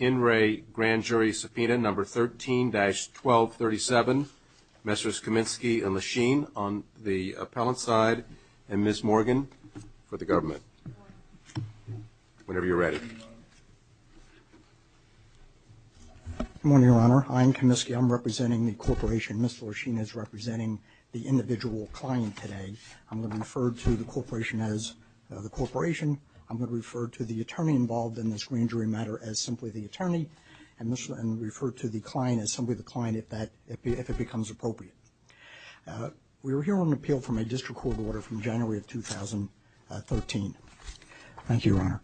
In Re Grand Jury Subpoena Number 13-1237, Messrs. Kaminsky and Lachine on the appellant side, and Ms. Morgan for the government. Whenever you're ready. Good morning, Your Honor. I'm Kaminsky. I'm representing the corporation. Ms. Lachine is representing the individual client today. I'm going to refer to the corporation as the corporation. I'm going to refer to the attorney involved in this grand jury matter as simply the attorney, and refer to the client as simply the client if that, if it becomes appropriate. We're here on an appeal from a district court order from January of 2013. Thank you, Your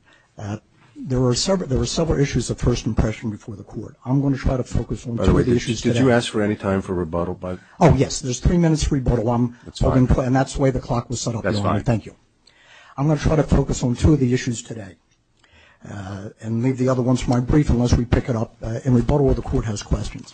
Honor. There were several issues of first impression before the court. I'm going to try to focus on two of the issues today. By the way, did you ask for any time for rebuttal by the court? Oh, yes. There's three minutes for rebuttal. That's fine. And that's the way the clock was set up, Your Honor. That's fine. I'm going to try to focus on two of the issues today, and leave the other ones for my brief unless we pick it up and rebuttal all the courthouse questions.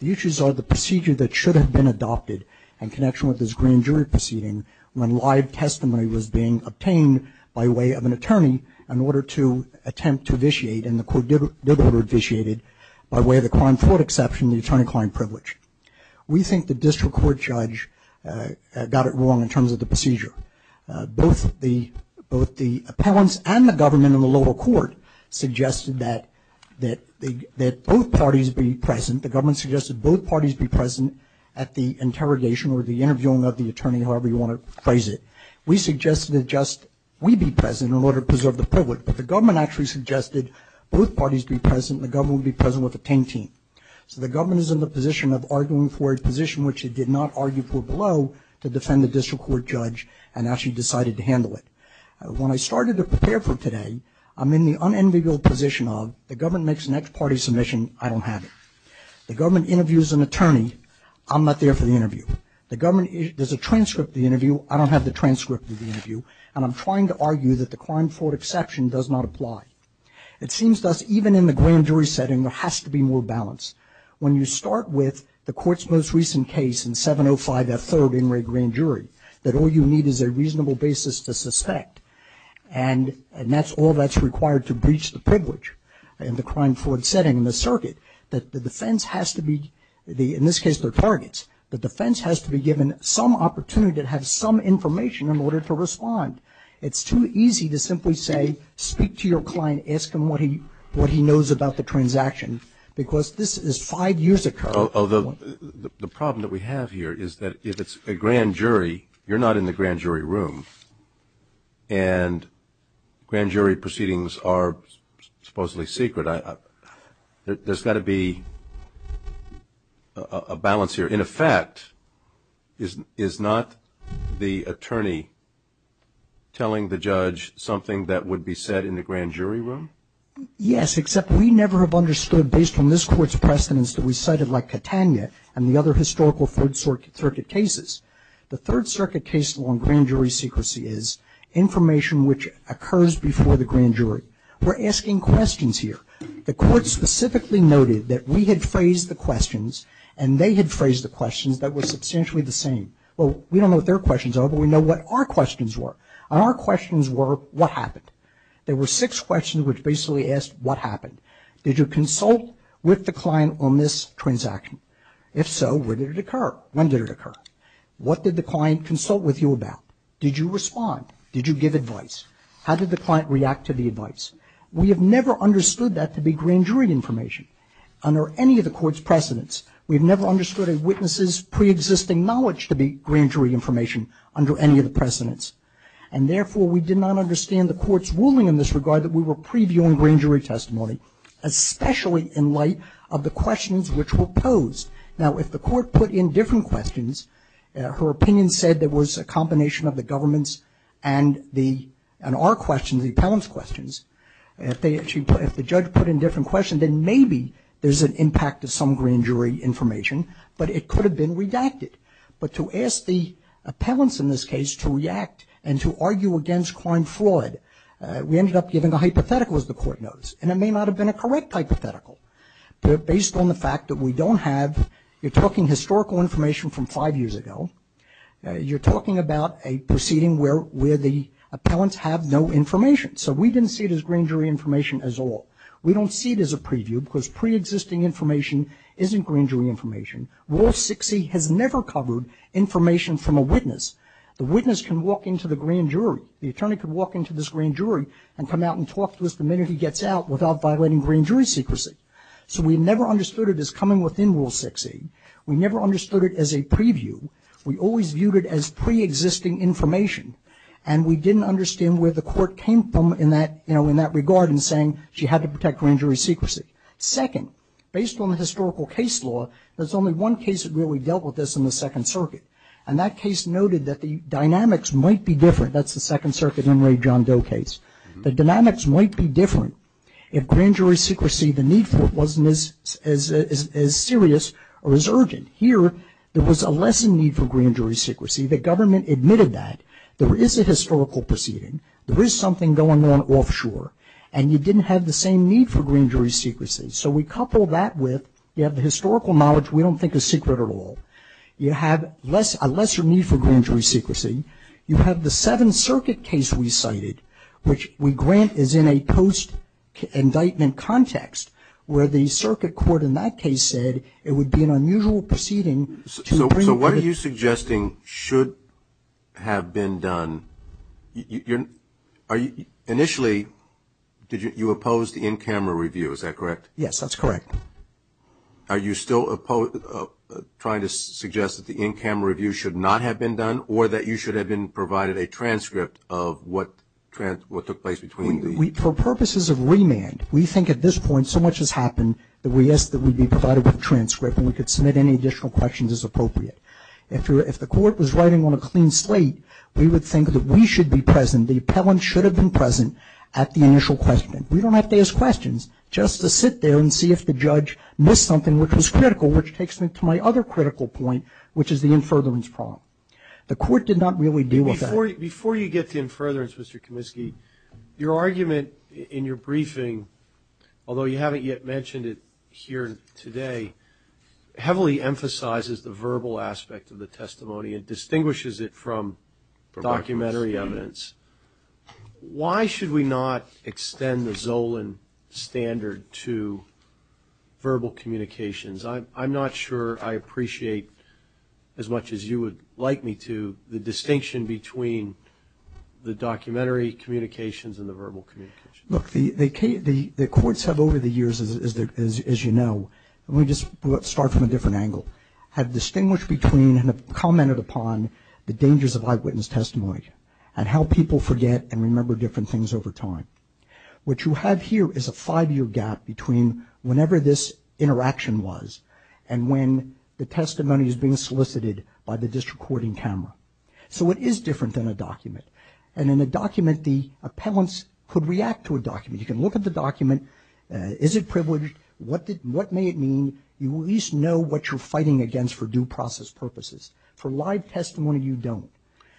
The issues are the procedure that should have been adopted in connection with this grand jury proceeding when live testimony was being obtained by way of an attorney in order to attempt to vitiate, and the court did order it vitiated by way of the crime fraud exception and the attorney-client privilege. We think the district court judge got it wrong in terms of the procedure. Both the appellants and the government in the lower court suggested that both parties be present. The government suggested both parties be present at the interrogation or the interviewing of the attorney, however you want to phrase it. We suggested that just we be present in order to preserve the privilege, but the government actually suggested both parties be present and the government would be present with a position which it did not argue for below to defend the district court judge and actually decided to handle it. When I started to prepare for today, I'm in the unenviable position of the government makes an ex parte submission, I don't have it. The government interviews an attorney, I'm not there for the interview. The government, there's a transcript of the interview, I don't have the transcript of the interview, and I'm trying to argue that the crime fraud exception does not apply. It seems to us even in the grand jury setting there has to be more balance. When you start with the court's most recent case in 705 F. 3rd in red grand jury, that all you need is a reasonable basis to suspect, and that's all that's required to breach the privilege in the crime fraud setting in the circuit, that the defense has to be, in this case they're targets, the defense has to be given some opportunity to have some information in order to respond. It's too easy to simply say speak to your client, ask him what he knows about the transaction, because this is five years ago. The problem that we have here is that if it's a grand jury, you're not in the grand jury room, and grand jury proceedings are supposedly secret. There's got to be a balance here. In effect, is not the attorney telling the judge something that would be said in the grand jury room? Yes, except we never have understood based on this Court's precedence that we cited like Catania and the other historical Third Circuit cases. The Third Circuit case law in grand jury secrecy is information which occurs before the grand jury. We're asking questions here. The Court specifically noted that we had phrased the questions and they had phrased the questions that were substantially the same. Well, we don't know what their questions are, but we know what our questions were. Our questions were what happened? There were six questions which basically asked what happened. Did you consult with the client on this transaction? If so, where did it occur? When did it occur? What did the client consult with you about? Did you respond? Did you give advice? How did the client react to the advice? We have never understood that to be grand jury information under any of the Court's precedence. We have never understood a witness's preexisting knowledge to be grand jury information under any of the precedence. And therefore, we did not understand the Court's ruling in this regard that we were previewing grand jury testimony, especially in light of the questions which were posed. Now, if the Court put in different questions, her opinion said there was a combination of the government's and our questions, the appellant's questions. If the judge put in different questions, then maybe there's an impact of some grand jury information, but it could have been redacted. But to ask the appellants in this case to react and to argue against crime fraud, we ended up giving a hypothetical, as the Court knows. And it may not have been a correct hypothetical. But based on the fact that we don't have, you're talking historical information from five years ago. You're talking about a proceeding where the appellants have no information. So we didn't see it as grand jury information at all. We don't see it as a preview because preexisting information isn't grand jury information. Rule 6E has never covered information from a witness. The witness can walk into the grand jury. The attorney can walk into this grand jury and come out and talk to us the minute he gets out without violating grand jury secrecy. So we never understood it as coming within Rule 6E. We never understood it as a preview. We always viewed it as preexisting information. And we didn't understand where the Court came from in that, you know, in that regard in saying she had to protect grand jury secrecy. Second, based on the historical case law, there's only one case that really dealt with this in the Second Circuit. And that case noted that the dynamics might be different. That's the Second Circuit Enraged John Doe case. The dynamics might be different if grand jury secrecy, the need for it wasn't as serious or as urgent. Here, there was a lesser need for grand jury secrecy. The government admitted that. There is a historical proceeding. There is something going on offshore. And you didn't have the same need for grand jury secrecy. So we coupled that with, you have the historical knowledge we don't think is secret at all. You have a lesser need for grand jury secrecy. You have the Seventh Circuit case we cited, which we grant is in a post-indictment context, where the Circuit Court in that case said it would be an unusual proceeding. So what are you suggesting should have been done? Initially, you opposed the in-camera review. Is that correct? Yes, that's correct. Are you still trying to suggest that the in-camera review should not have been done or that you should have been provided a transcript of what took place between the? For purposes of remand, we think at this point so much has happened that we ask that we be provided with a transcript and we could submit any additional questions as appropriate. If the court was writing on a clean slate, we would think that we should be present. The appellant should have been present at the initial question. We don't have to ask questions just to sit there and see if the judge missed something which was critical, which takes me to my other critical point, which is the in-furtherance problem. The court did not really deal with that. Before you get to in-furtherance, Mr. Kaminsky, your argument in your briefing, although you haven't yet mentioned it here today, heavily emphasizes the verbal aspect of the testimony and distinguishes it from documentary evidence. Why should we not extend the Zolan standard to verbal communications? I'm not sure I appreciate as much as you would like me to the distinction between the documentary communications and the verbal communications. Look, the courts have over the years, as you know, and we just start from a different angle, have distinguished between and have commented upon the dangers of eyewitness testimony and how people forget and remember different things over time. What you have here is a five-year gap between whenever this interaction was and when the testimony is being solicited by the disrecording camera. So it is different than a document. And in a document, the appellants could react to a document. You can look at the document. Is it privileged? What may it mean? You at least know what you're fighting against for due process purposes. For live testimony, you don't.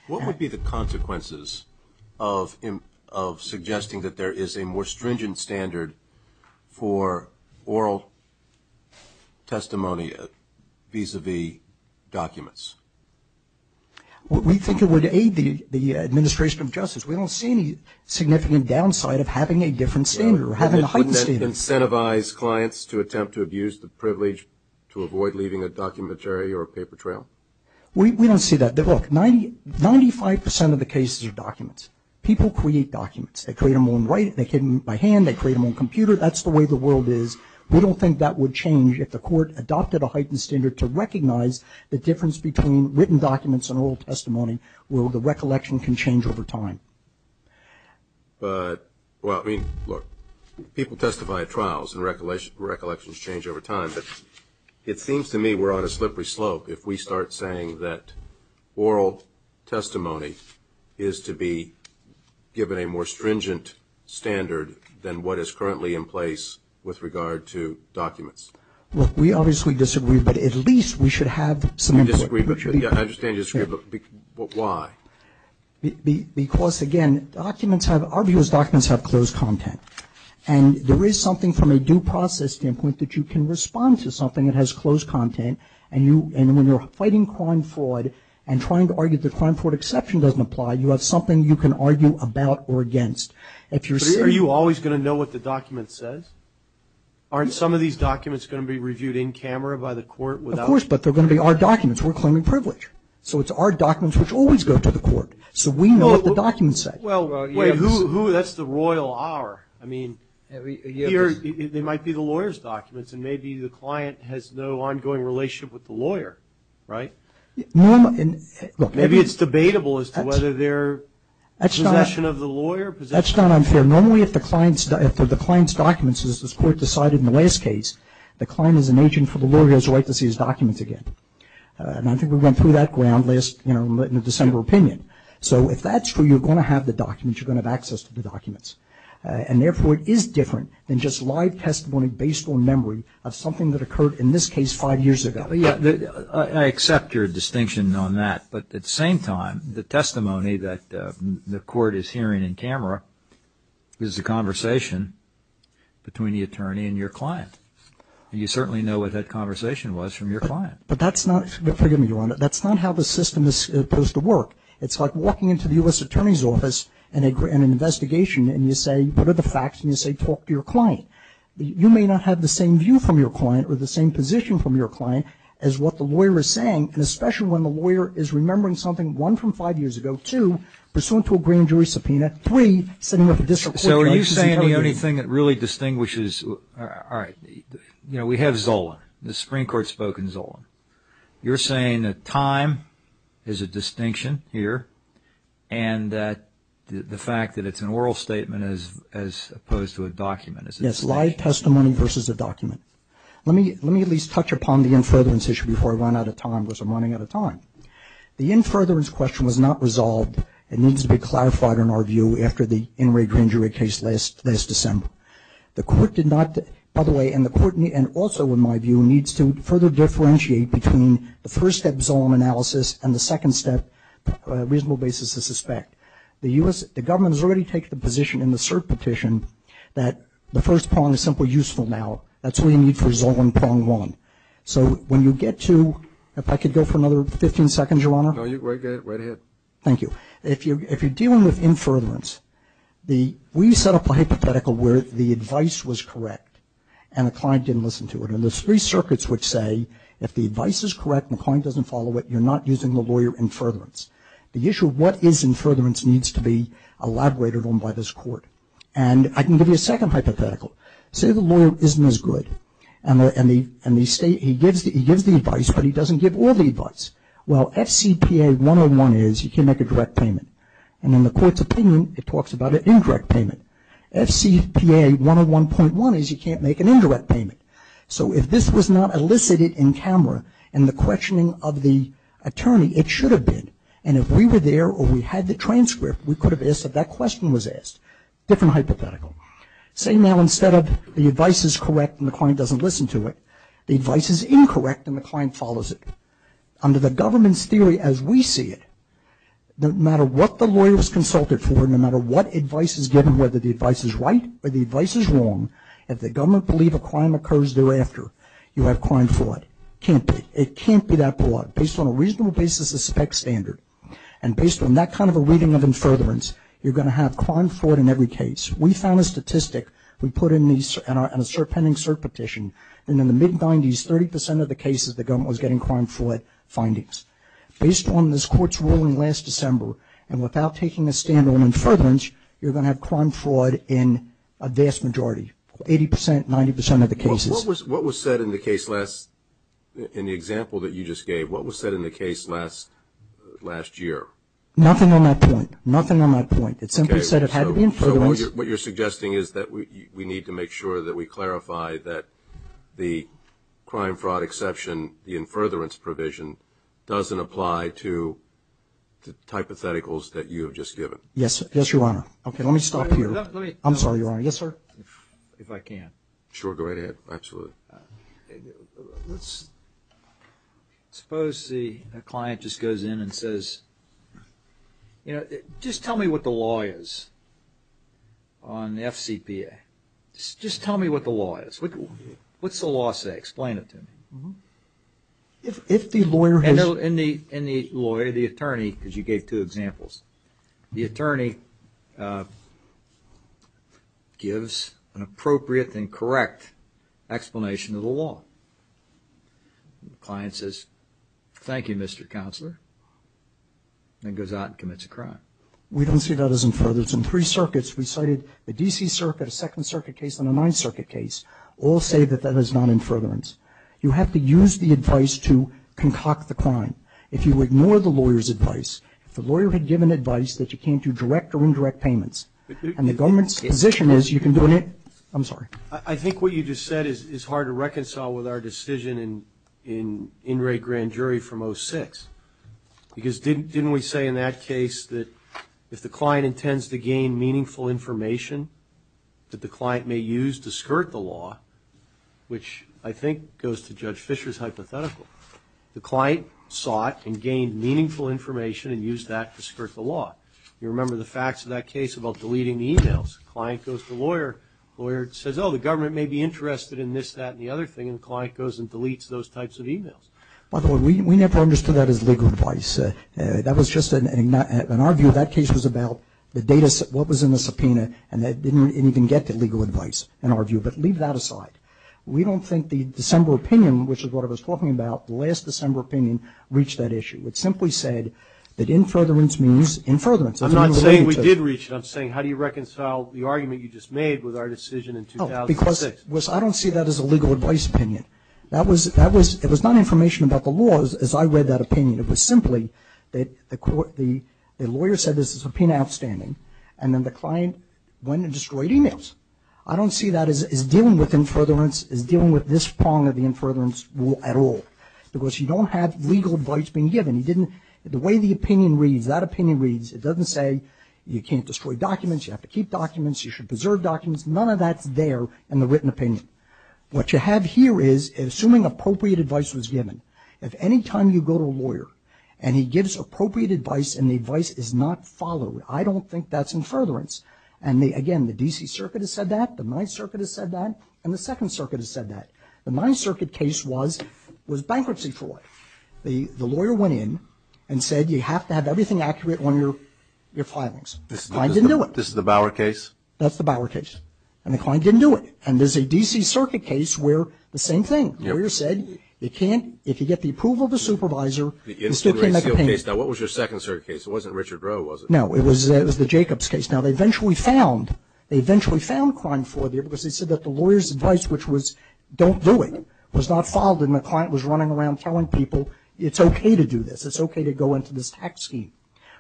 What would be the consequences of suggesting that there is a more stringent standard for oral testimony vis-à-vis documents? We think it would aid the administration of justice. We don't see any significant downside of having a different standard or having a heightened standard. Would it incentivize clients to attempt to abuse the privilege to avoid leaving a documentary or a paper trail? We don't see that. Look, 95% of the cases are documents. People create documents. They create them by hand. They create them on a computer. That's the way the world is. We don't think that would change if the court adopted a heightened standard to recognize the difference between written documents and oral testimony, where the recollection can change over time. But, well, I mean, look, people testify at trials and recollections change over time. But it seems to me we're on a slippery slope if we start saying that oral testimony is to be given a more stringent standard than what is currently in place with regard to documents. Look, we obviously disagree, but at least we should have some input. We disagree. I understand you disagree, but why? Because, again, our view is documents have closed content. And there is something from a due process standpoint that you can respond to something that has closed content, and when you're fighting crime fraud and trying to argue that the crime fraud exception doesn't apply, you have something you can argue about or against. Are you always going to know what the document says? Aren't some of these documents going to be reviewed in camera by the court? Of course, but they're going to be our documents. We're claiming privilege. So it's our documents which always go to the court. So we know what the document says. Well, wait, who? That's the royal hour. I mean, here they might be the lawyer's documents, and maybe the client has no ongoing relationship with the lawyer, right? Maybe it's debatable as to whether they're possession of the lawyer. That's not unfair. Normally if the client's documents, as the court decided in the last case, the client is an agent for the lawyer's right to see his documents again. And I think we went through that ground in the December opinion. So if that's true, you're going to have the documents, you're going to have access to the documents, and therefore it is different than just live testimony based on memory of something that occurred in this case five years ago. Yeah, I accept your distinction on that, but at the same time, the testimony that the court is hearing in camera is the conversation between the attorney and your client. You certainly know what that conversation was from your client. But that's not, forgive me, Your Honor, that's not how the system is supposed to work. It's like walking into the U.S. Attorney's Office in an investigation, and you say, what are the facts, and you say, talk to your client. You may not have the same view from your client or the same position from your client as what the lawyer is saying, and especially when the lawyer is remembering something, one, from five years ago, two, pursuant to a grand jury subpoena, three, sitting with a district court. So are you saying the only thing that really distinguishes, all right, you know, we have Zola. The Supreme Court spoke in Zola. You're saying that time is a distinction here and that the fact that it's an oral statement as opposed to a document is a distinction. Yes, live testimony versus a document. Let me at least touch upon the in-furtherance issue before I run out of time because I'm running out of time. The in-furtherance question was not resolved and needs to be clarified in our view after the In re Grand Jury case last December. The court did not, by the way, and the court, and also in my view, needs to further differentiate between the first step Zola analysis and the second step reasonable basis to suspect. The U.S. The government has already taken the position in the cert petition that the first prong is simply useful now. That's what you need for Zola and prong one. So when you get to, if I could go for another 15 seconds, Your Honor. No, right ahead. Thank you. So if you're dealing with in-furtherance, we set up a hypothetical where the advice was correct and the client didn't listen to it. And there's three circuits which say if the advice is correct and the client doesn't follow it, you're not using the lawyer in-furtherance. The issue of what is in-furtherance needs to be elaborated on by this court. And I can give you a second hypothetical. Say the lawyer isn't as good and he gives the advice, but he doesn't give all the advice. Well, FCPA 101 is you can't make a direct payment. And in the court's opinion, it talks about an indirect payment. FCPA 101.1 is you can't make an indirect payment. So if this was not elicited in camera and the questioning of the attorney, it should have been. And if we were there or we had the transcript, we could have asked if that question was asked. Different hypothetical. Say now instead of the advice is correct and the client doesn't listen to it, the advice is incorrect and the client follows it. Under the government's theory as we see it, no matter what the lawyer is consulted for, no matter what advice is given, whether the advice is right or the advice is wrong, if the government believes a crime occurs thereafter, you have crime fraud. It can't be that broad. Based on a reasonable basis of spec standard and based on that kind of a reading of in-furtherance, you're going to have crime fraud in every case. We found a statistic we put in a pending cert petition, and in the mid-90s, 30% of the cases the government was getting crime fraud findings. Based on this court's ruling last December, and without taking a stand on in-furtherance, you're going to have crime fraud in a vast majority, 80%, 90% of the cases. What was said in the case last, in the example that you just gave, what was said in the case last year? Nothing on that point. Nothing on that point. It simply said it had to be in-furtherance. So what you're suggesting is that we need to make sure that we clarify that the crime fraud exception, the in-furtherance provision, doesn't apply to the hypotheticals that you have just given. Yes, Your Honor. Okay, let me stop here. I'm sorry, Your Honor. Yes, sir? If I can. Sure, go right ahead. Absolutely. Let's suppose the client just goes in and says, just tell me what the law is on the FCPA. Just tell me what the law is. What's the law say? Explain it to me. If the lawyer has... In the lawyer, the attorney, because you gave two examples, the attorney gives an appropriate and correct explanation of the law. The client says, thank you, Mr. Counselor, and goes out and commits a crime. We don't see that as in-furtherance. In three circuits, we cited the D.C. Circuit, a Second Circuit case, and a Ninth Circuit case, all say that that is not in-furtherance. You have to use the advice to concoct the crime. If you ignore the lawyer's advice, if the lawyer had given advice that you can't do direct or indirect payments, and the government's position is you can do it... I'm sorry. I think what you just said is hard to reconcile with our decision in In Re Grand Jury from 06. Because didn't we say in that case that if the client intends to gain meaningful information that the client may use to skirt the law, which I think goes to Judge Fischer's hypothetical, the client sought and gained meaningful information and used that to skirt the law. You remember the facts of that case about deleting the e-mails. The client goes to the lawyer. The lawyer says, oh, the government may be interested in this, that, and the other thing. And the client goes and deletes those types of e-mails. By the way, we never understood that as legal advice. That was just an... In our view, that case was about the data, what was in the subpoena, and they didn't even get the legal advice, in our view. But leave that aside. We don't think the December opinion, which is what I was talking about, the last December opinion, reached that issue. It simply said that infurtherance means infurtherance. I'm not saying we did reach it. I'm saying how do you reconcile the argument you just made with our decision in 2006? Oh, because I don't see that as a legal advice opinion. It was not information about the laws as I read that opinion. It was simply that the lawyer said there's a subpoena outstanding, and then the client went and destroyed e-mails. I don't see that as dealing with infurtherance, as dealing with this prong of the infurtherance rule at all, because you don't have legal advice being given. The way the opinion reads, that opinion reads, it doesn't say you can't destroy documents, you have to keep documents, you should preserve documents. None of that's there in the written opinion. What you have here is, assuming appropriate advice was given, if any time you go to a lawyer and he gives appropriate advice and the advice is not followed, I don't think that's infurtherance. And, again, the D.C. Circuit has said that, the Ninth Circuit has said that, and the Second Circuit has said that. The Ninth Circuit case was bankruptcy fraud. The lawyer went in and said you have to have everything accurate on your filings. The client didn't do it. This is the Bower case? That's the Bower case. And the client didn't do it. And there's a D.C. Circuit case where the same thing. The lawyer said you can't, if you get the approval of the supervisor, you still can't make a case. Now, what was your Second Circuit case? It wasn't Richard Roe, was it? No, it was the Jacobs case. Now, they eventually found, they eventually found crime fraud there because they said that the lawyer's advice, which was don't do it, was not followed and the client was running around telling people it's okay to do this. It's okay to go into this tax scheme.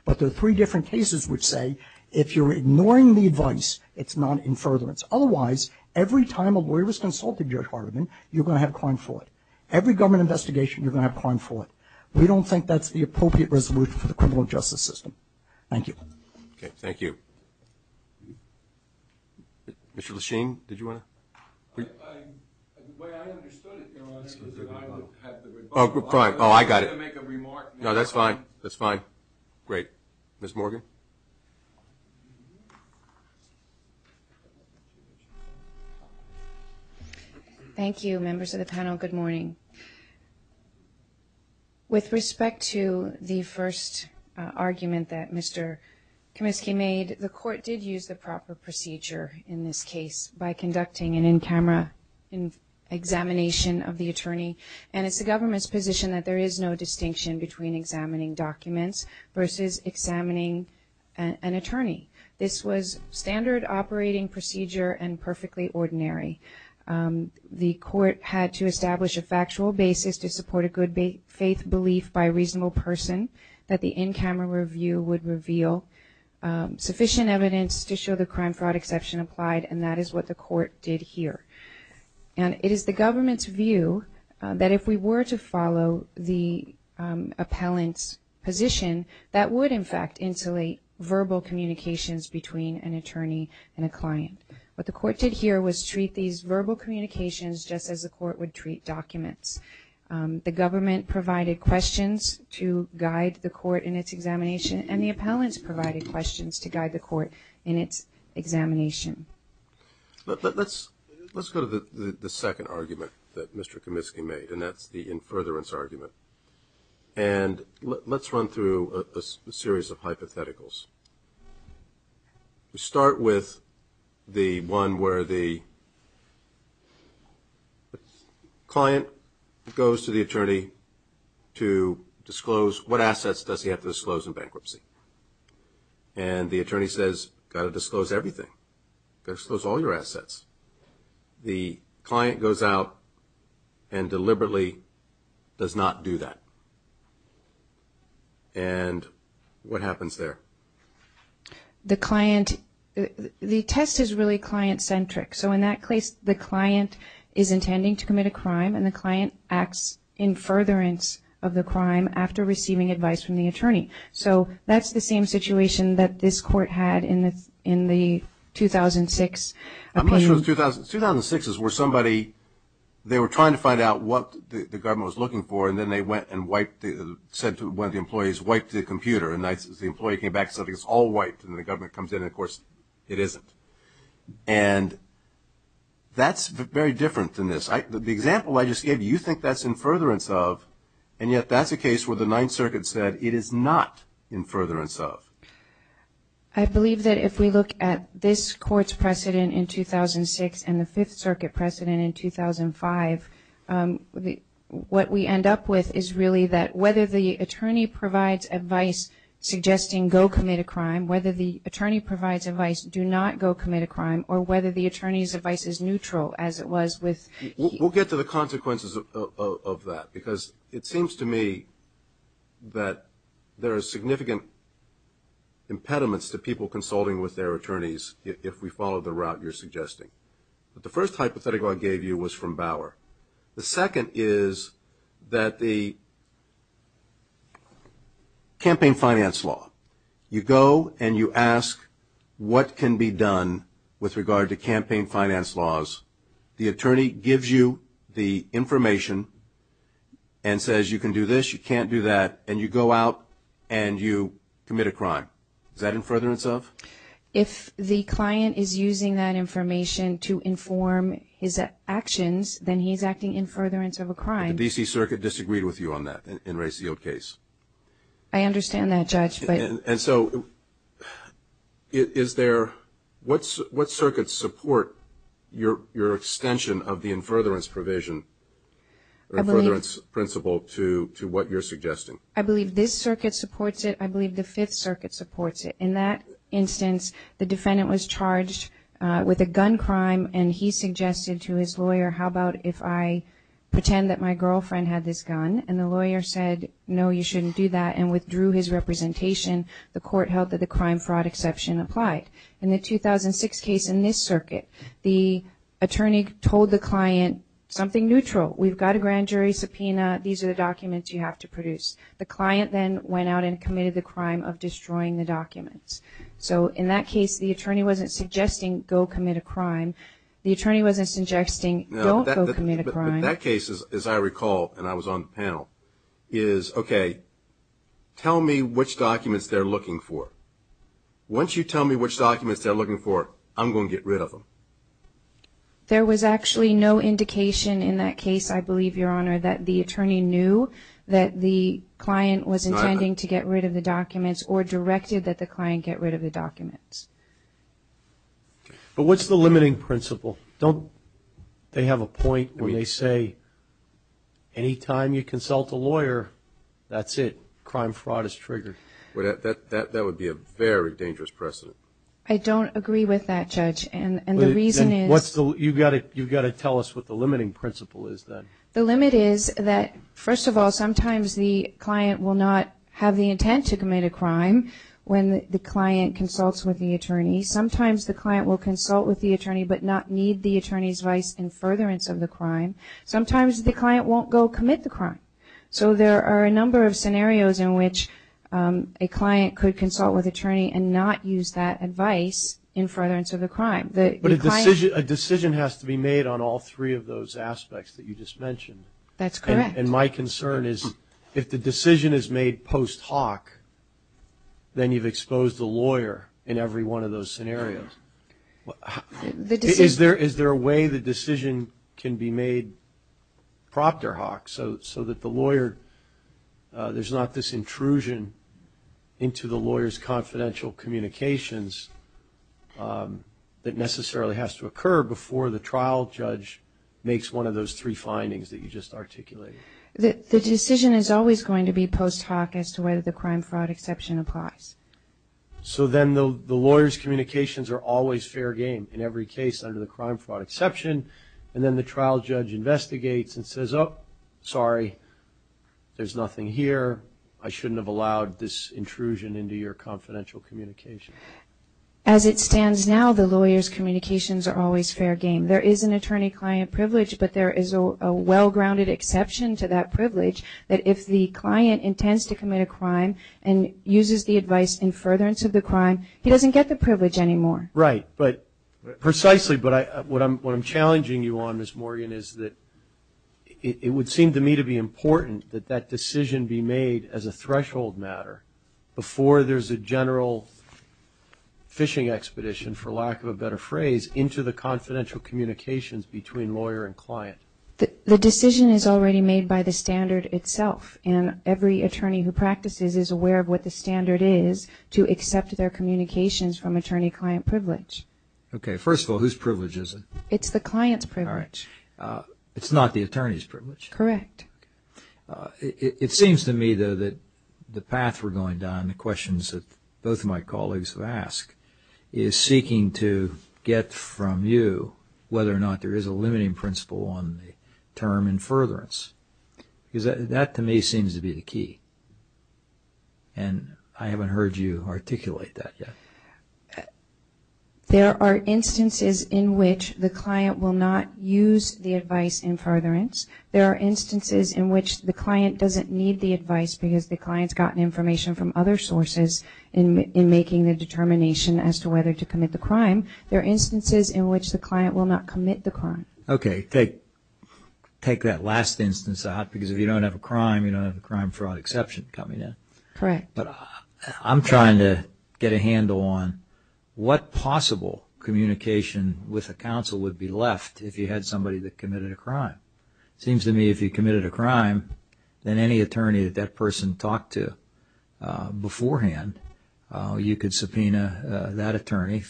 But there are three different cases which say if you're ignoring the advice, it's not infurtherance. Otherwise, every time a lawyer has consulted Judge Hardiman, you're going to have crime fraud. Every government investigation, you're going to have crime fraud. We don't think that's the appropriate resolution for the criminal justice system. Thank you. Okay, thank you. Mr. Lechine, did you want to? The way I understood it, Your Honor, is that I would have the rebuttal. Oh, I got it. I was going to make a remark. No, that's fine. That's fine. Great. Ms. Morgan? Thank you, members of the panel. Good morning. With respect to the first argument that Mr. Kaminsky made, the court did use the proper procedure in this case by conducting an in-camera examination of the attorney. And it's the government's position that there is no distinction between examining documents versus examining an attorney. This was standard operating procedure and perfectly ordinary. The court had to establish a factual basis to support a good faith belief by a reasonable person that the in-camera review would reveal sufficient evidence to show the crime fraud exception applied, and that is what the court did here. And it is the government's view that if we were to follow the appellant's position, that would, in fact, insulate verbal communications between an attorney and a client. What the court did here was treat these verbal communications just as the court would treat documents. The government provided questions to guide the court in its examination, and the appellants provided questions to guide the court in its examination. Let's go to the second argument that Mr. Kaminsky made, and that's the in-furtherance argument. And let's run through a series of hypotheticals. We start with the one where the client goes to the attorney to disclose what assets does he have to disclose in bankruptcy. And the attorney says, got to disclose everything. Disclose all your assets. The client goes out and deliberately does not do that. And what happens there? The client, the test is really client-centric. So in that case, the client is intending to commit a crime, and the client acts in furtherance of the crime after receiving advice from the attorney. So that's the same situation that this court had in the 2006. I'm not sure if it was 2006. 2006 is where somebody, they were trying to find out what the government was looking for, and then they went and said to one of the employees, wipe the computer. And the employee came back and said, it's all wiped. And the government comes in and, of course, it isn't. And that's very different than this. The example I just gave you, you think that's in-furtherance of, and yet that's a case where the Ninth Circuit said it is not in-furtherance of. I believe that if we look at this court's precedent in 2006 and the Fifth what we end up with is really that whether the attorney provides advice suggesting go commit a crime, whether the attorney provides advice do not go commit a crime, or whether the attorney's advice is neutral, as it was with. We'll get to the consequences of that, because it seems to me that there are significant impediments to people consulting with their attorneys if we follow the route you're suggesting. But the first hypothetical I gave you was from Bauer. The second is that the campaign finance law, you go and you ask what can be done with regard to campaign finance laws. The attorney gives you the information and says you can do this, you can't do that, and you go out and you commit a crime. Is that in-furtherance of? If the client is using that information to inform his actions, then he's acting in-furtherance of a crime. But the D.C. Circuit disagreed with you on that in Ray Seale's case. I understand that, Judge. And so is there – what circuits support your extension of the in-furtherance provision or in-furtherance principle to what you're suggesting? I believe this circuit supports it. I believe the Fifth Circuit supports it. In that instance, the defendant was charged with a gun crime, and he suggested to his lawyer, how about if I pretend that my girlfriend had this gun? And the lawyer said, no, you shouldn't do that, and withdrew his representation. The court held that the crime fraud exception applied. In the 2006 case in this circuit, the attorney told the client something neutral. We've got a grand jury subpoena. These are the documents you have to produce. The client then went out and committed the crime of destroying the documents. So in that case, the attorney wasn't suggesting go commit a crime. The attorney wasn't suggesting don't go commit a crime. But that case, as I recall, and I was on the panel, is, okay, tell me which documents they're looking for. Once you tell me which documents they're looking for, I'm going to get rid of them. There was actually no indication in that case, I believe, Your Honor, that the attorney knew that the client was intending to get rid of the documents or directed that the client get rid of the documents. But what's the limiting principle? Don't they have a point where they say any time you consult a lawyer, that's it, crime fraud is triggered? That would be a very dangerous precedent. I don't agree with that, Judge, and the reason is – You've got to tell us what the limiting principle is then. The limit is that, first of all, sometimes the client will not have the intent to commit a crime when the client consults with the attorney. Sometimes the client will consult with the attorney but not need the attorney's advice in furtherance of the crime. Sometimes the client won't go commit the crime. So there are a number of scenarios in which a client could consult with attorney and not use that advice in furtherance of the crime. But a decision has to be made on all three of those aspects that you just mentioned. That's correct. And my concern is if the decision is made post hoc, then you've exposed the lawyer in every one of those scenarios. Is there a way the decision can be made proctor hoc so that the lawyer – there's not this intrusion into the lawyer's confidential communications that necessarily has to occur before the trial judge makes one of those three findings that you just articulated? The decision is always going to be post hoc as to whether the crime-fraud exception applies. So then the lawyer's communications are always fair game in every case under the crime-fraud exception, and then the trial judge investigates and says, oh, sorry, there's nothing here. I shouldn't have allowed this intrusion into your confidential communication. As it stands now, the lawyer's communications are always fair game. There is an attorney-client privilege, but there is a well-grounded exception to that privilege that if the client intends to commit a crime and uses the advice in furtherance of the crime, he doesn't get the privilege anymore. Right, precisely. But what I'm challenging you on, Ms. Morgan, is that it would seem to me to be important that that decision be made as a threshold matter before there's a general fishing expedition, for lack of a better phrase, into the confidential communications between lawyer and client. The decision is already made by the standard itself, and every attorney who practices is aware of what the standard is to accept their communications from attorney-client privilege. Okay, first of all, whose privilege is it? It's the client's privilege. It's not the attorney's privilege? Correct. It seems to me, though, that the path we're going down, the questions that both of my colleagues have asked, is seeking to get from you whether or not there is a limiting principle on the term in furtherance. Because that, to me, seems to be the key. And I haven't heard you articulate that yet. There are instances in which the client will not use the advice in furtherance. There are instances in which the client doesn't need the advice because the client's gotten information from other sources in making the determination as to whether to commit the crime. There are instances in which the client will not commit the crime. Okay, take that last instance out, because if you don't have a crime, you don't have a crime-fraud exception coming in. Correct. But I'm trying to get a handle on what possible communication with a counsel would be left if you had somebody that committed a crime. It seems to me if you committed a crime, then any attorney that that person talked to beforehand, you could subpoena that attorney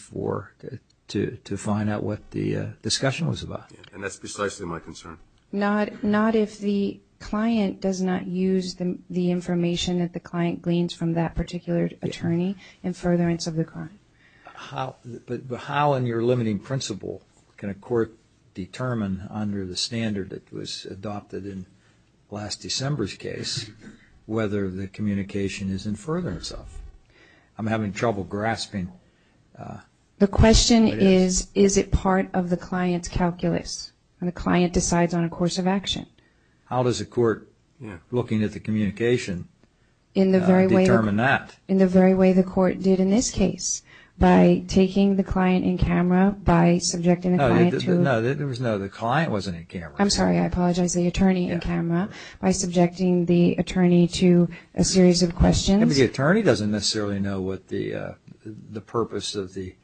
to find out what the discussion was about. And that's precisely my concern. Not if the client does not use the information that the client gleans from that particular attorney in furtherance of the crime. But how in your limiting principle can a court determine, under the standard that was adopted in last December's case, whether the communication is in furtherance of? I'm having trouble grasping. The question is, is it part of the client's calculus when the client decides on a course of action? How does a court, looking at the communication, determine that? In the very way the court did in this case, by taking the client in camera, by subjecting the client to? No, the client wasn't in camera. I'm sorry, I apologize. The attorney in camera, by subjecting the attorney to a series of questions. The attorney doesn't necessarily know what the purpose of the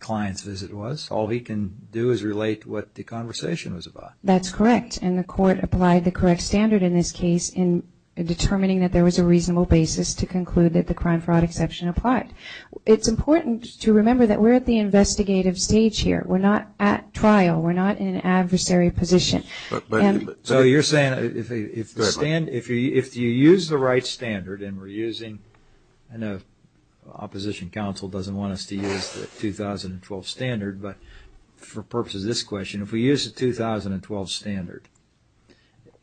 client's visit was. All he can do is relate what the conversation was about. That's correct. And the court applied the correct standard in this case in determining that there was a reasonable basis to conclude that the crime-fraud exception applied. It's important to remember that we're at the investigative stage here. We're not at trial. We're not in an adversary position. So you're saying if you use the right standard, and we're using, I know opposition counsel doesn't want us to use the 2012 standard, but for purposes of this question, if we use the 2012 standard,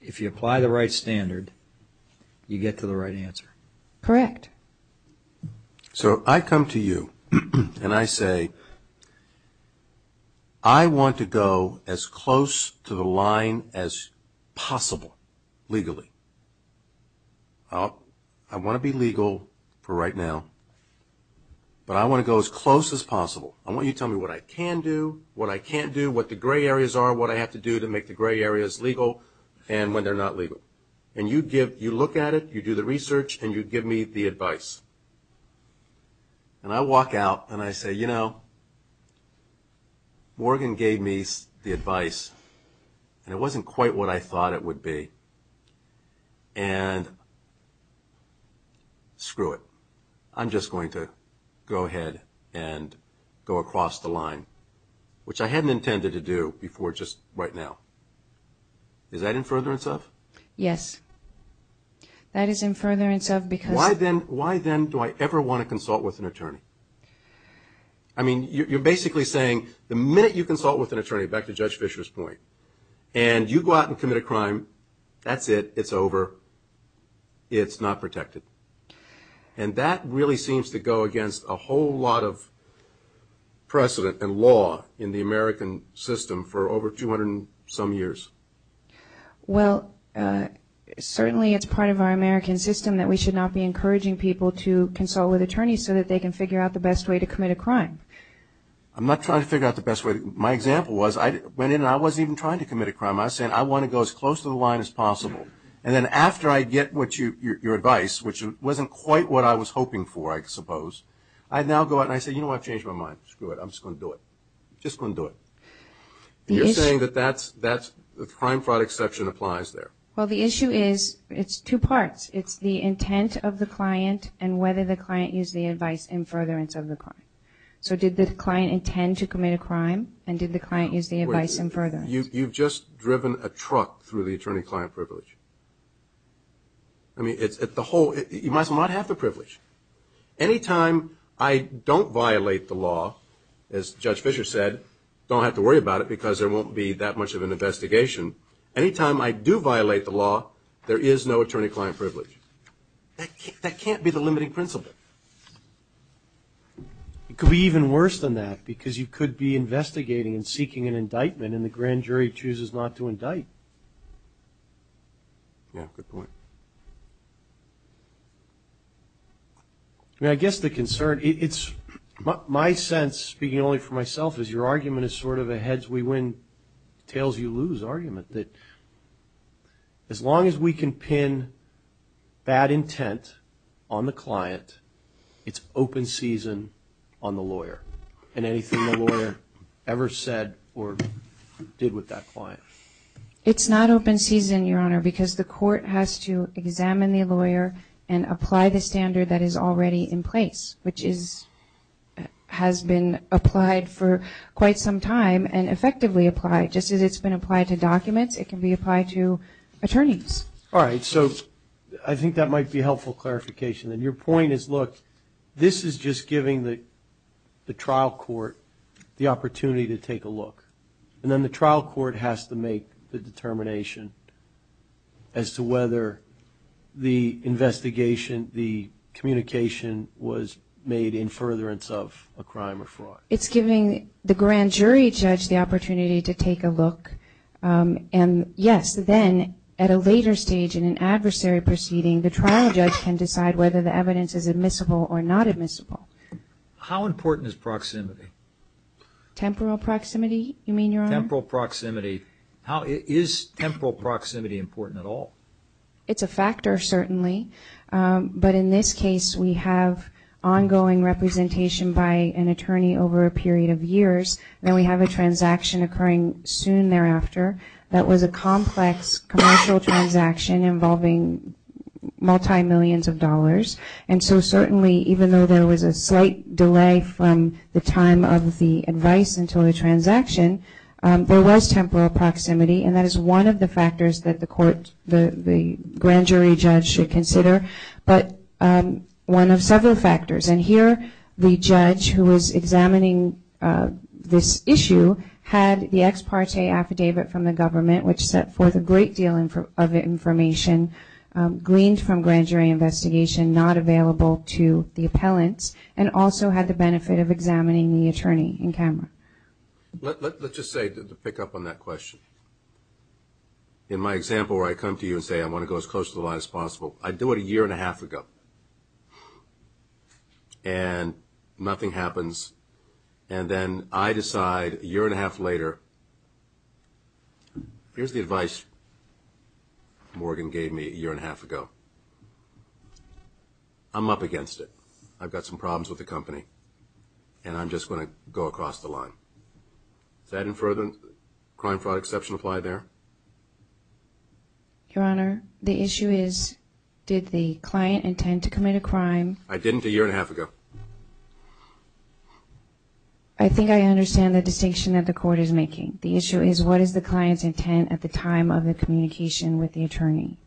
if you apply the right standard, you get to the right answer. Correct. So I come to you and I say, I want to go as close to the line as possible legally. I want to be legal for right now, but I want to go as close as possible. I want you to tell me what I can do, what I can't do, what the gray areas are, what I have to do to make the gray areas legal, and when they're not legal. And you look at it, you do the research, and you give me the advice. And I walk out and I say, you know, Morgan gave me the advice, and it wasn't quite what I thought it would be, and screw it. I'm just going to go ahead and go across the line, which I hadn't intended to do before just right now. Is that in furtherance of? Yes. That is in furtherance of because... Why then do I ever want to consult with an attorney? I mean, you're basically saying the minute you consult with an attorney, back to Judge Fisher's point, and you go out and commit a crime, that's it. It's over. It's not protected. And that really seems to go against a whole lot of precedent and law in the American system for over 200 and some years. Well, certainly it's part of our American system that we should not be encouraging people to consult with attorneys so that they can figure out the best way to commit a crime. I'm not trying to figure out the best way. My example was I went in and I wasn't even trying to commit a crime. I was saying I want to go as close to the line as possible. And then after I get your advice, which wasn't quite what I was hoping for, I suppose, I now go out and I say, you know what, I've changed my mind. Screw it. I'm just going to do it. Just going to do it. And you're saying that the crime fraud exception applies there. Well, the issue is it's two parts. It's the intent of the client and whether the client used the advice in furtherance of the crime. So did the client intend to commit a crime, and did the client use the advice in furtherance? You've just driven a truck through the attorney-client privilege. I mean, you might as well not have the privilege. Any time I don't violate the law, as Judge Fisher said, don't have to worry about it because there won't be that much of an investigation. Any time I do violate the law, there is no attorney-client privilege. That can't be the limiting principle. It could be even worse than that because you could be investigating and seeking an indictment and the grand jury chooses not to indict. Yeah, good point. I mean, I guess the concern, it's my sense, speaking only for myself, is your argument is sort of a heads-we-win, tails-you-lose argument that as long as we can pin bad intent on the client, it's open season on the lawyer and anything the lawyer ever said or did with that client. It's not open season, Your Honor, because the court has to examine the lawyer and apply the standard that is already in place, which has been applied for quite some time and effectively applied. Just as it's been applied to documents, it can be applied to attorneys. All right, so I think that might be helpful clarification. And your point is, look, this is just giving the trial court the opportunity to take a look. And then the trial court has to make the determination as to whether the investigation, the communication, was made in furtherance of a crime or fraud. It's giving the grand jury judge the opportunity to take a look. And, yes, then at a later stage in an adversary proceeding, the trial judge can decide whether the evidence is admissible or not admissible. How important is proximity? Temporal proximity, you mean, Your Honor? Temporal proximity. Is temporal proximity important at all? It's a factor, certainly. But in this case, we have ongoing representation by an attorney over a period of years. Then we have a transaction occurring soon thereafter that was a complex commercial transaction involving multi-millions of dollars. And so certainly, even though there was a slight delay from the time of the advice until the transaction, there was temporal proximity. And that is one of the factors that the grand jury judge should consider, but one of several factors. And here the judge who was examining this issue had the ex parte affidavit from the government, which set forth a great deal of information, gleaned from grand jury investigation not available to the appellants, and also had the benefit of examining the attorney in camera. Let's just say, to pick up on that question, in my example where I come to you and say I want to go as close to the line as possible, I do it a year and a half ago, and nothing happens. And then I decide a year and a half later, here's the advice Morgan gave me a year and a half ago. I'm up against it. I've got some problems with the company, and I'm just going to go across the line. Does that infer the crime fraud exception apply there? Your Honor, the issue is did the client intend to commit a crime? I didn't a year and a half ago. I think I understand the distinction that the court is making. The issue is what is the client's intent at the time of the communication with the attorney,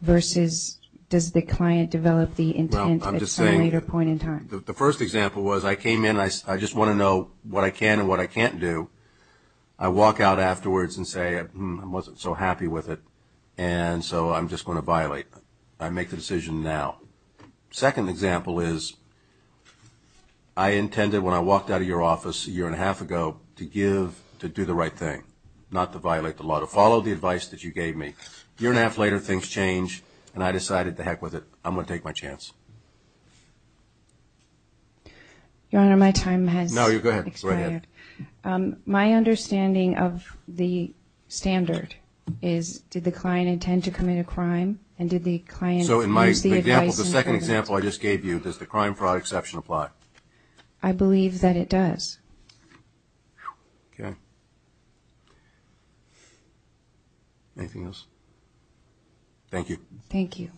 versus does the client develop the intent at some later point in time? The first example was I came in, I just want to know what I can and what I can't do. I walk out afterwards and say I wasn't so happy with it, and so I'm just going to violate. I make the decision now. The second example is I intended when I walked out of your office a year and a half ago to give, to do the right thing, not to violate the law, to follow the advice that you gave me. A year and a half later, things change, and I decided to heck with it. I'm going to take my chance. Your Honor, my time has expired. No, go ahead. My understanding of the standard is did the client intend to commit a crime, and did the client use the advice in her event? So in my example, the second example I just gave you, does the crime fraud exception apply? I believe that it does. Okay. Anything else? Thank you. Thank you.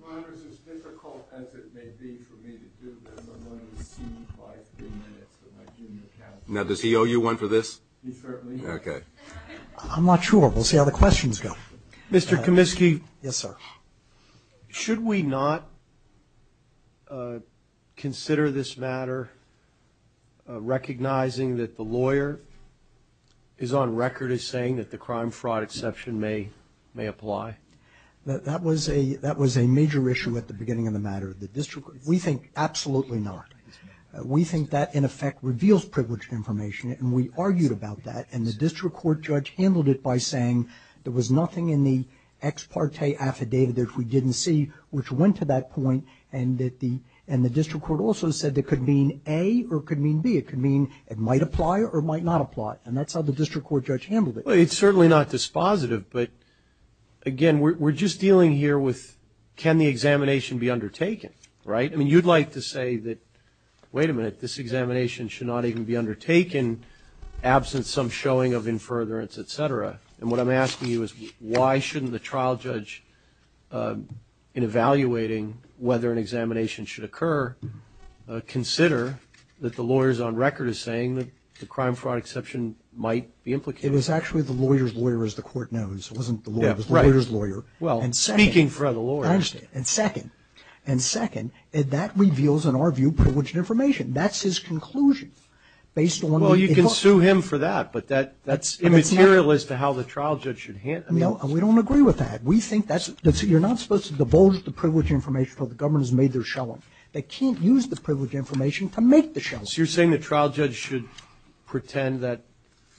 Your Honor, as difficult as it may be for me to do this, I'm going to cede my three minutes to my junior counsel. Now, does he owe you one for this? He certainly does. Okay. I'm not sure. We'll see how the questions go. Mr. Comiskey. Yes, sir. Should we not consider this matter recognizing that the lawyer is on record as saying that the crime fraud exception may apply? That was a major issue at the beginning of the matter. We think absolutely not. We think that, in effect, reveals privileged information, and we argued about that, and the district court judge handled it by saying there was nothing in the ex parte affidavit that we didn't see which went to that point, and the district court also said it could mean A or it could mean B. It could mean it might apply or it might not apply, and that's how the district court judge handled it. Well, it's certainly not dispositive, but, again, we're just dealing here with can the examination be undertaken, right? I mean, you'd like to say that, wait a minute, this examination should not even be undertaken, absent some showing of in furtherance, et cetera, and what I'm asking you is why shouldn't the trial judge, in evaluating whether an examination should occur, consider that the lawyer is on record as saying that the crime fraud exception might be implicated? It was actually the lawyer's lawyer, as the court knows. It wasn't the lawyer. It was the lawyer's lawyer. Well, speaking for the lawyer. I understand, and second, and second, that reveals, in our view, privileged information. That's his conclusion, based on the information. Well, you can sue him for that, but that's immaterial as to how the trial judge should handle it. No, and we don't agree with that. We think that's you're not supposed to divulge the privileged information until the government has made their showing. They can't use the privileged information to make the showing. So you're saying the trial judge should pretend that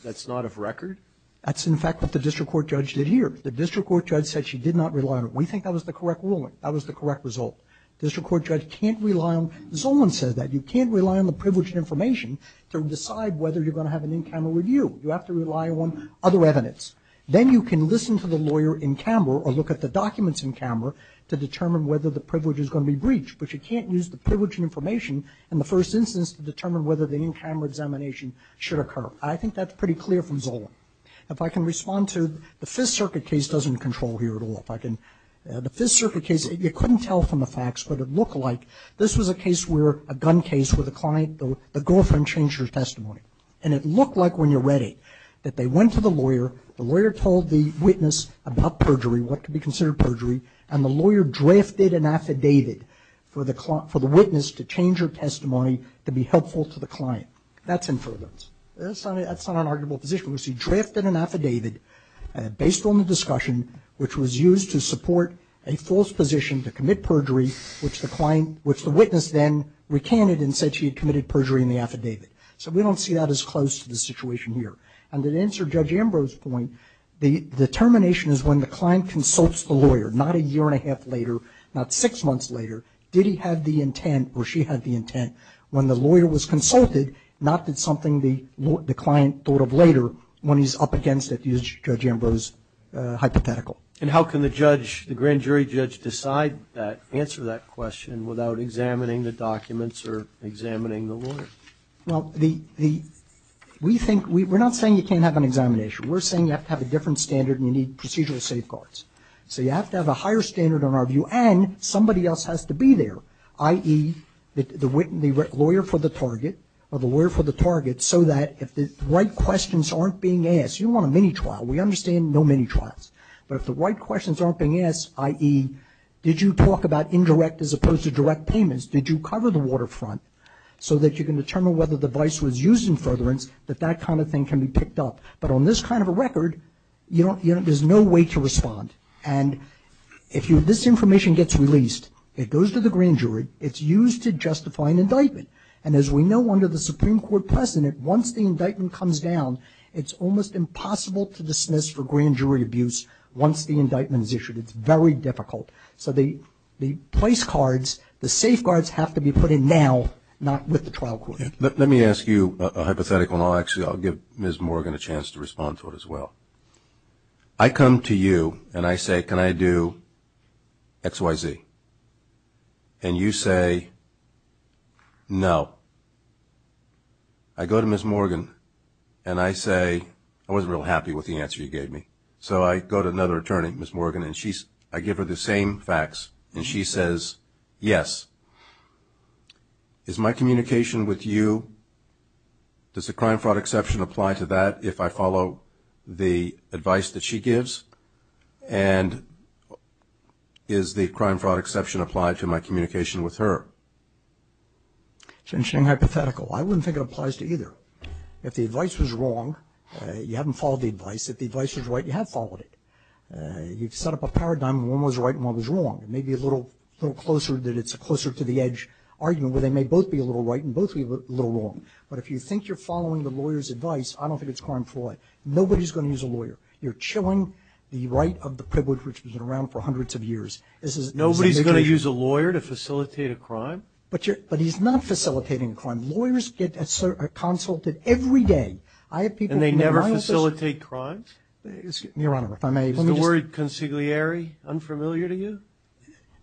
that's not of record? That's, in fact, what the district court judge did here. The district court judge said she did not rely on it. We think that was the correct ruling. That was the correct result. The district court judge can't rely on it. Zolan says that. You can't rely on the privileged information to decide whether you're going to have an in-camera review. You have to rely on other evidence. Then you can listen to the lawyer in-camera or look at the documents in-camera to determine whether the privilege is going to be breached, but you can't use the privileged information in the first instance to determine whether the in-camera examination should occur. I think that's pretty clear from Zolan. If I can respond to the Fifth Circuit case doesn't control here at all. The Fifth Circuit case, you couldn't tell from the facts, but it looked like this was a case where a gun case with a client, the girlfriend changed her testimony. And it looked like when you read it that they went to the lawyer, the lawyer told the witness about perjury, what could be considered perjury, and the lawyer drafted an affidavit for the witness to change her testimony to be helpful to the client. That's inference. That's not an arguable position. He drafted an affidavit based on the discussion, which was used to support a false position to commit perjury, which the witness then recanted and said she had committed perjury in the affidavit. So we don't see that as close to the situation here. And to answer Judge Ambrose's point, the determination is when the client consults the lawyer, not a year and a half later, not six months later. Did he have the intent or she had the intent when the lawyer was consulted, not did something the client thought of later when he's up against, that is Judge Ambrose's hypothetical. And how can the judge, the grand jury judge decide that, answer that question without examining the documents or examining the lawyer? Well, we think, we're not saying you can't have an examination. We're saying you have to have a different standard and you need procedural safeguards. So you have to have a higher standard in our view and somebody else has to be there, i.e., the lawyer for the target or the lawyer for the target so that if the right questions aren't being asked, you don't want a mini trial. We understand no mini trials. But if the right questions aren't being asked, i.e., did you talk about indirect as opposed to direct payments, did you cover the waterfront so that you can determine whether the vice was used in furtherance, that that kind of thing can be picked up. But on this kind of a record, there's no way to respond. And if this information gets released, it goes to the grand jury, it's used to justify an indictment. And as we know under the Supreme Court precedent, once the indictment comes down it's almost impossible to dismiss for grand jury abuse once the indictment is issued. It's very difficult. So the place cards, the safeguards have to be put in now, not with the trial court. Let me ask you a hypothetical and I'll actually give Ms. Morgan a chance to respond to it as well. I come to you and I say, can I do X, Y, Z? And you say, no. I go to Ms. Morgan and I say, I wasn't real happy with the answer you gave me. So I go to another attorney, Ms. Morgan, and I give her the same facts. And she says, yes. Is my communication with you, does the crime fraud exception apply to that if I follow the advice that she gives? And is the crime fraud exception applied to my communication with her? It's an interesting hypothetical. I wouldn't think it applies to either. If the advice was wrong, you haven't followed the advice. If the advice was right, you have followed it. You've set up a paradigm of one was right and one was wrong. It may be a little closer that it's a closer to the edge argument where they may both be a little right and both be a little wrong. But if you think you're following the lawyer's advice, I don't think it's crime fraud. Nobody is going to use a lawyer. You're chilling the right of the privilege which has been around for hundreds of years. Nobody is going to use a lawyer to facilitate a crime? But he's not facilitating a crime. Lawyers get consulted every day. And they never facilitate crimes? Your Honor, if I may. Is the word consigliere unfamiliar to you?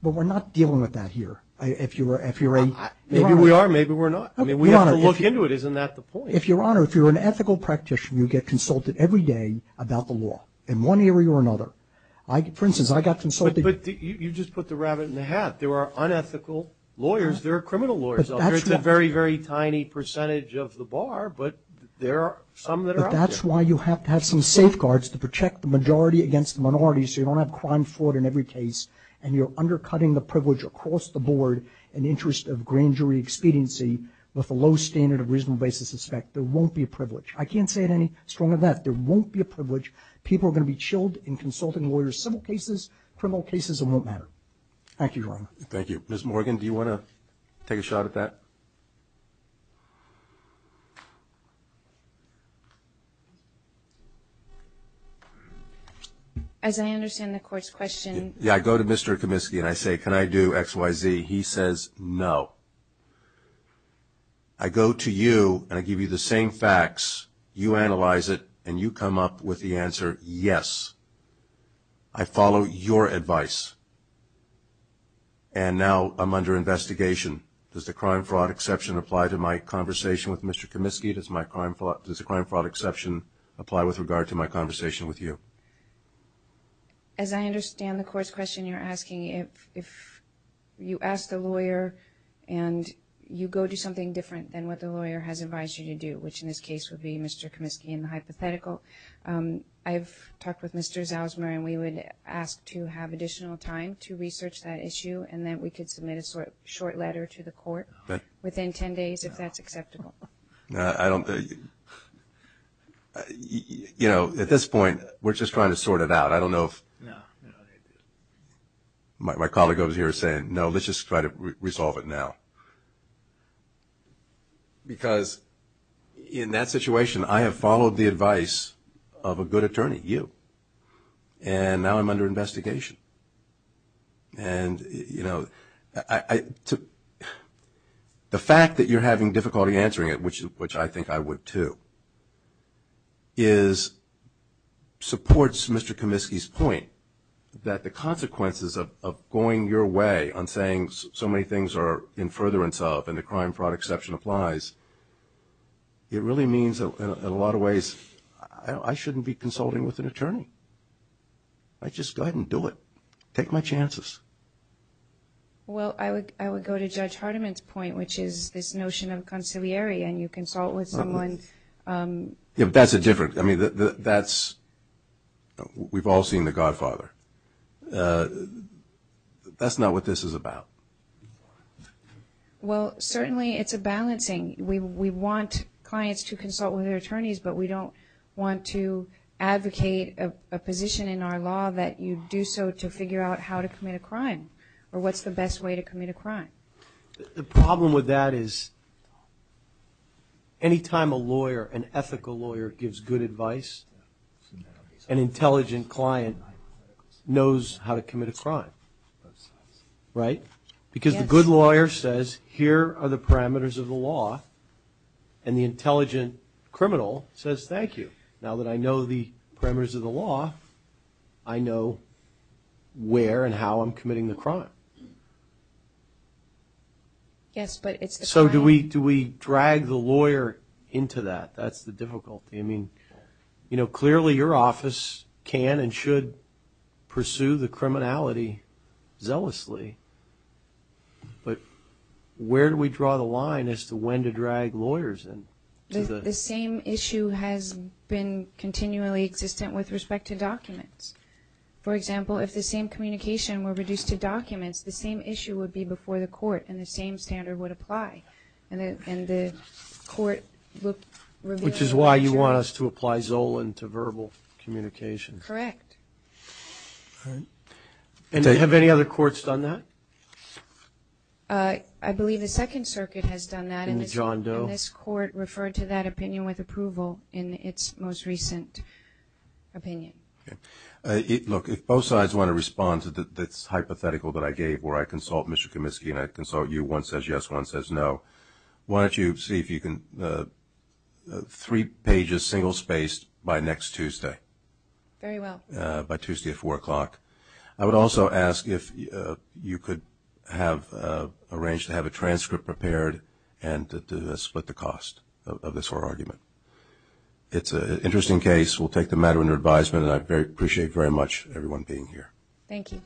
But we're not dealing with that here. Maybe we are, maybe we're not. We have to look into it. Isn't that the point? Your Honor, if you're an ethical practitioner, you get consulted every day about the law in one area or another. For instance, I got consulted. But you just put the rabbit in the hat. There are unethical lawyers. There are criminal lawyers out there. It's a very, very tiny percentage of the bar. But there are some that are out there. But that's why you have to have some safeguards to protect the majority against the minority so you don't have crime fraud in every case. And you're undercutting the privilege across the board in the interest of grand jury expediency with a low standard of reasonable basis of suspect. There won't be a privilege. I can't say it any stronger than that. There won't be a privilege. People are going to be chilled in consulting lawyers. There are civil cases, criminal cases, it won't matter. Thank you, Your Honor. Thank you. Ms. Morgan, do you want to take a shot at that? As I understand the court's question. Yeah, I go to Mr. Kaminsky and I say, can I do X, Y, Z? He says, no. I go to you and I give you the same facts. You analyze it and you come up with the answer, yes. I follow your advice. And now I'm under investigation. Does the crime fraud exception apply to my conversation with Mr. Kaminsky? Does the crime fraud exception apply with regard to my conversation with you? As I understand the court's question, you're asking if you ask the lawyer and you go do something different than what the lawyer has advised you to do, which in this case would be Mr. Kaminsky and the hypothetical. I've talked with Mr. Zausmer and we would ask to have additional time to research that issue and then we could submit a short letter to the court within 10 days if that's acceptable. You know, at this point, we're just trying to sort it out. I don't know if my colleague over here is saying, no, let's just try to resolve it now. Because in that situation, I have followed the advice of a good attorney, you, and now I'm under investigation. And, you know, the fact that you're having difficulty answering it, which I think I would too, is supports Mr. Kaminsky's point that the consequences of going your way on saying so many things are in furtherance of and the crime fraud exception applies, it really means in a lot of ways I shouldn't be consulting with an attorney. I just go ahead and do it. Take my chances. Well, I would go to Judge Hardiman's point, which is this notion of conciliary and you consult with someone. Yeah, but that's a different, I mean, that's, we've all seen The Godfather. That's not what this is about. Well, certainly it's a balancing. We want clients to consult with their attorneys, but we don't want to advocate a position in our law that you do so to figure out how to commit a crime or what's the best way to commit a crime. The problem with that is any time a lawyer, an ethical lawyer, gives good advice, an intelligent client knows how to commit a crime, right? Because the good lawyer says, here are the parameters of the law, and the intelligent criminal says, thank you. Now that I know the parameters of the law, I know where and how I'm committing the crime. Yes, but it's a crime. So do we drag the lawyer into that? That's the difficulty. I mean, you know, clearly your office can and should pursue the criminality zealously, but where do we draw the line as to when to drag lawyers in? The same issue has been continually existent with respect to documents. For example, if the same communication were reduced to documents, the same issue would be before the court and the same standard would apply, and the court would reveal that. Which is why you want us to apply Zolan to verbal communication. Correct. Have any other courts done that? I believe the Second Circuit has done that, and this court referred to that opinion with approval in its most recent opinion. Look, if both sides want to respond to this hypothetical that I gave where I consult Mr. Kaminsky and I consult you, one says yes, one says no, why don't you see if you can three pages single spaced by next Tuesday. Very well. By Tuesday at 4 o'clock. I would also ask if you could arrange to have a transcript prepared and to split the cost of this whole argument. It's an interesting case. We'll take the matter under advisement, and I appreciate very much everyone being here. Thank you.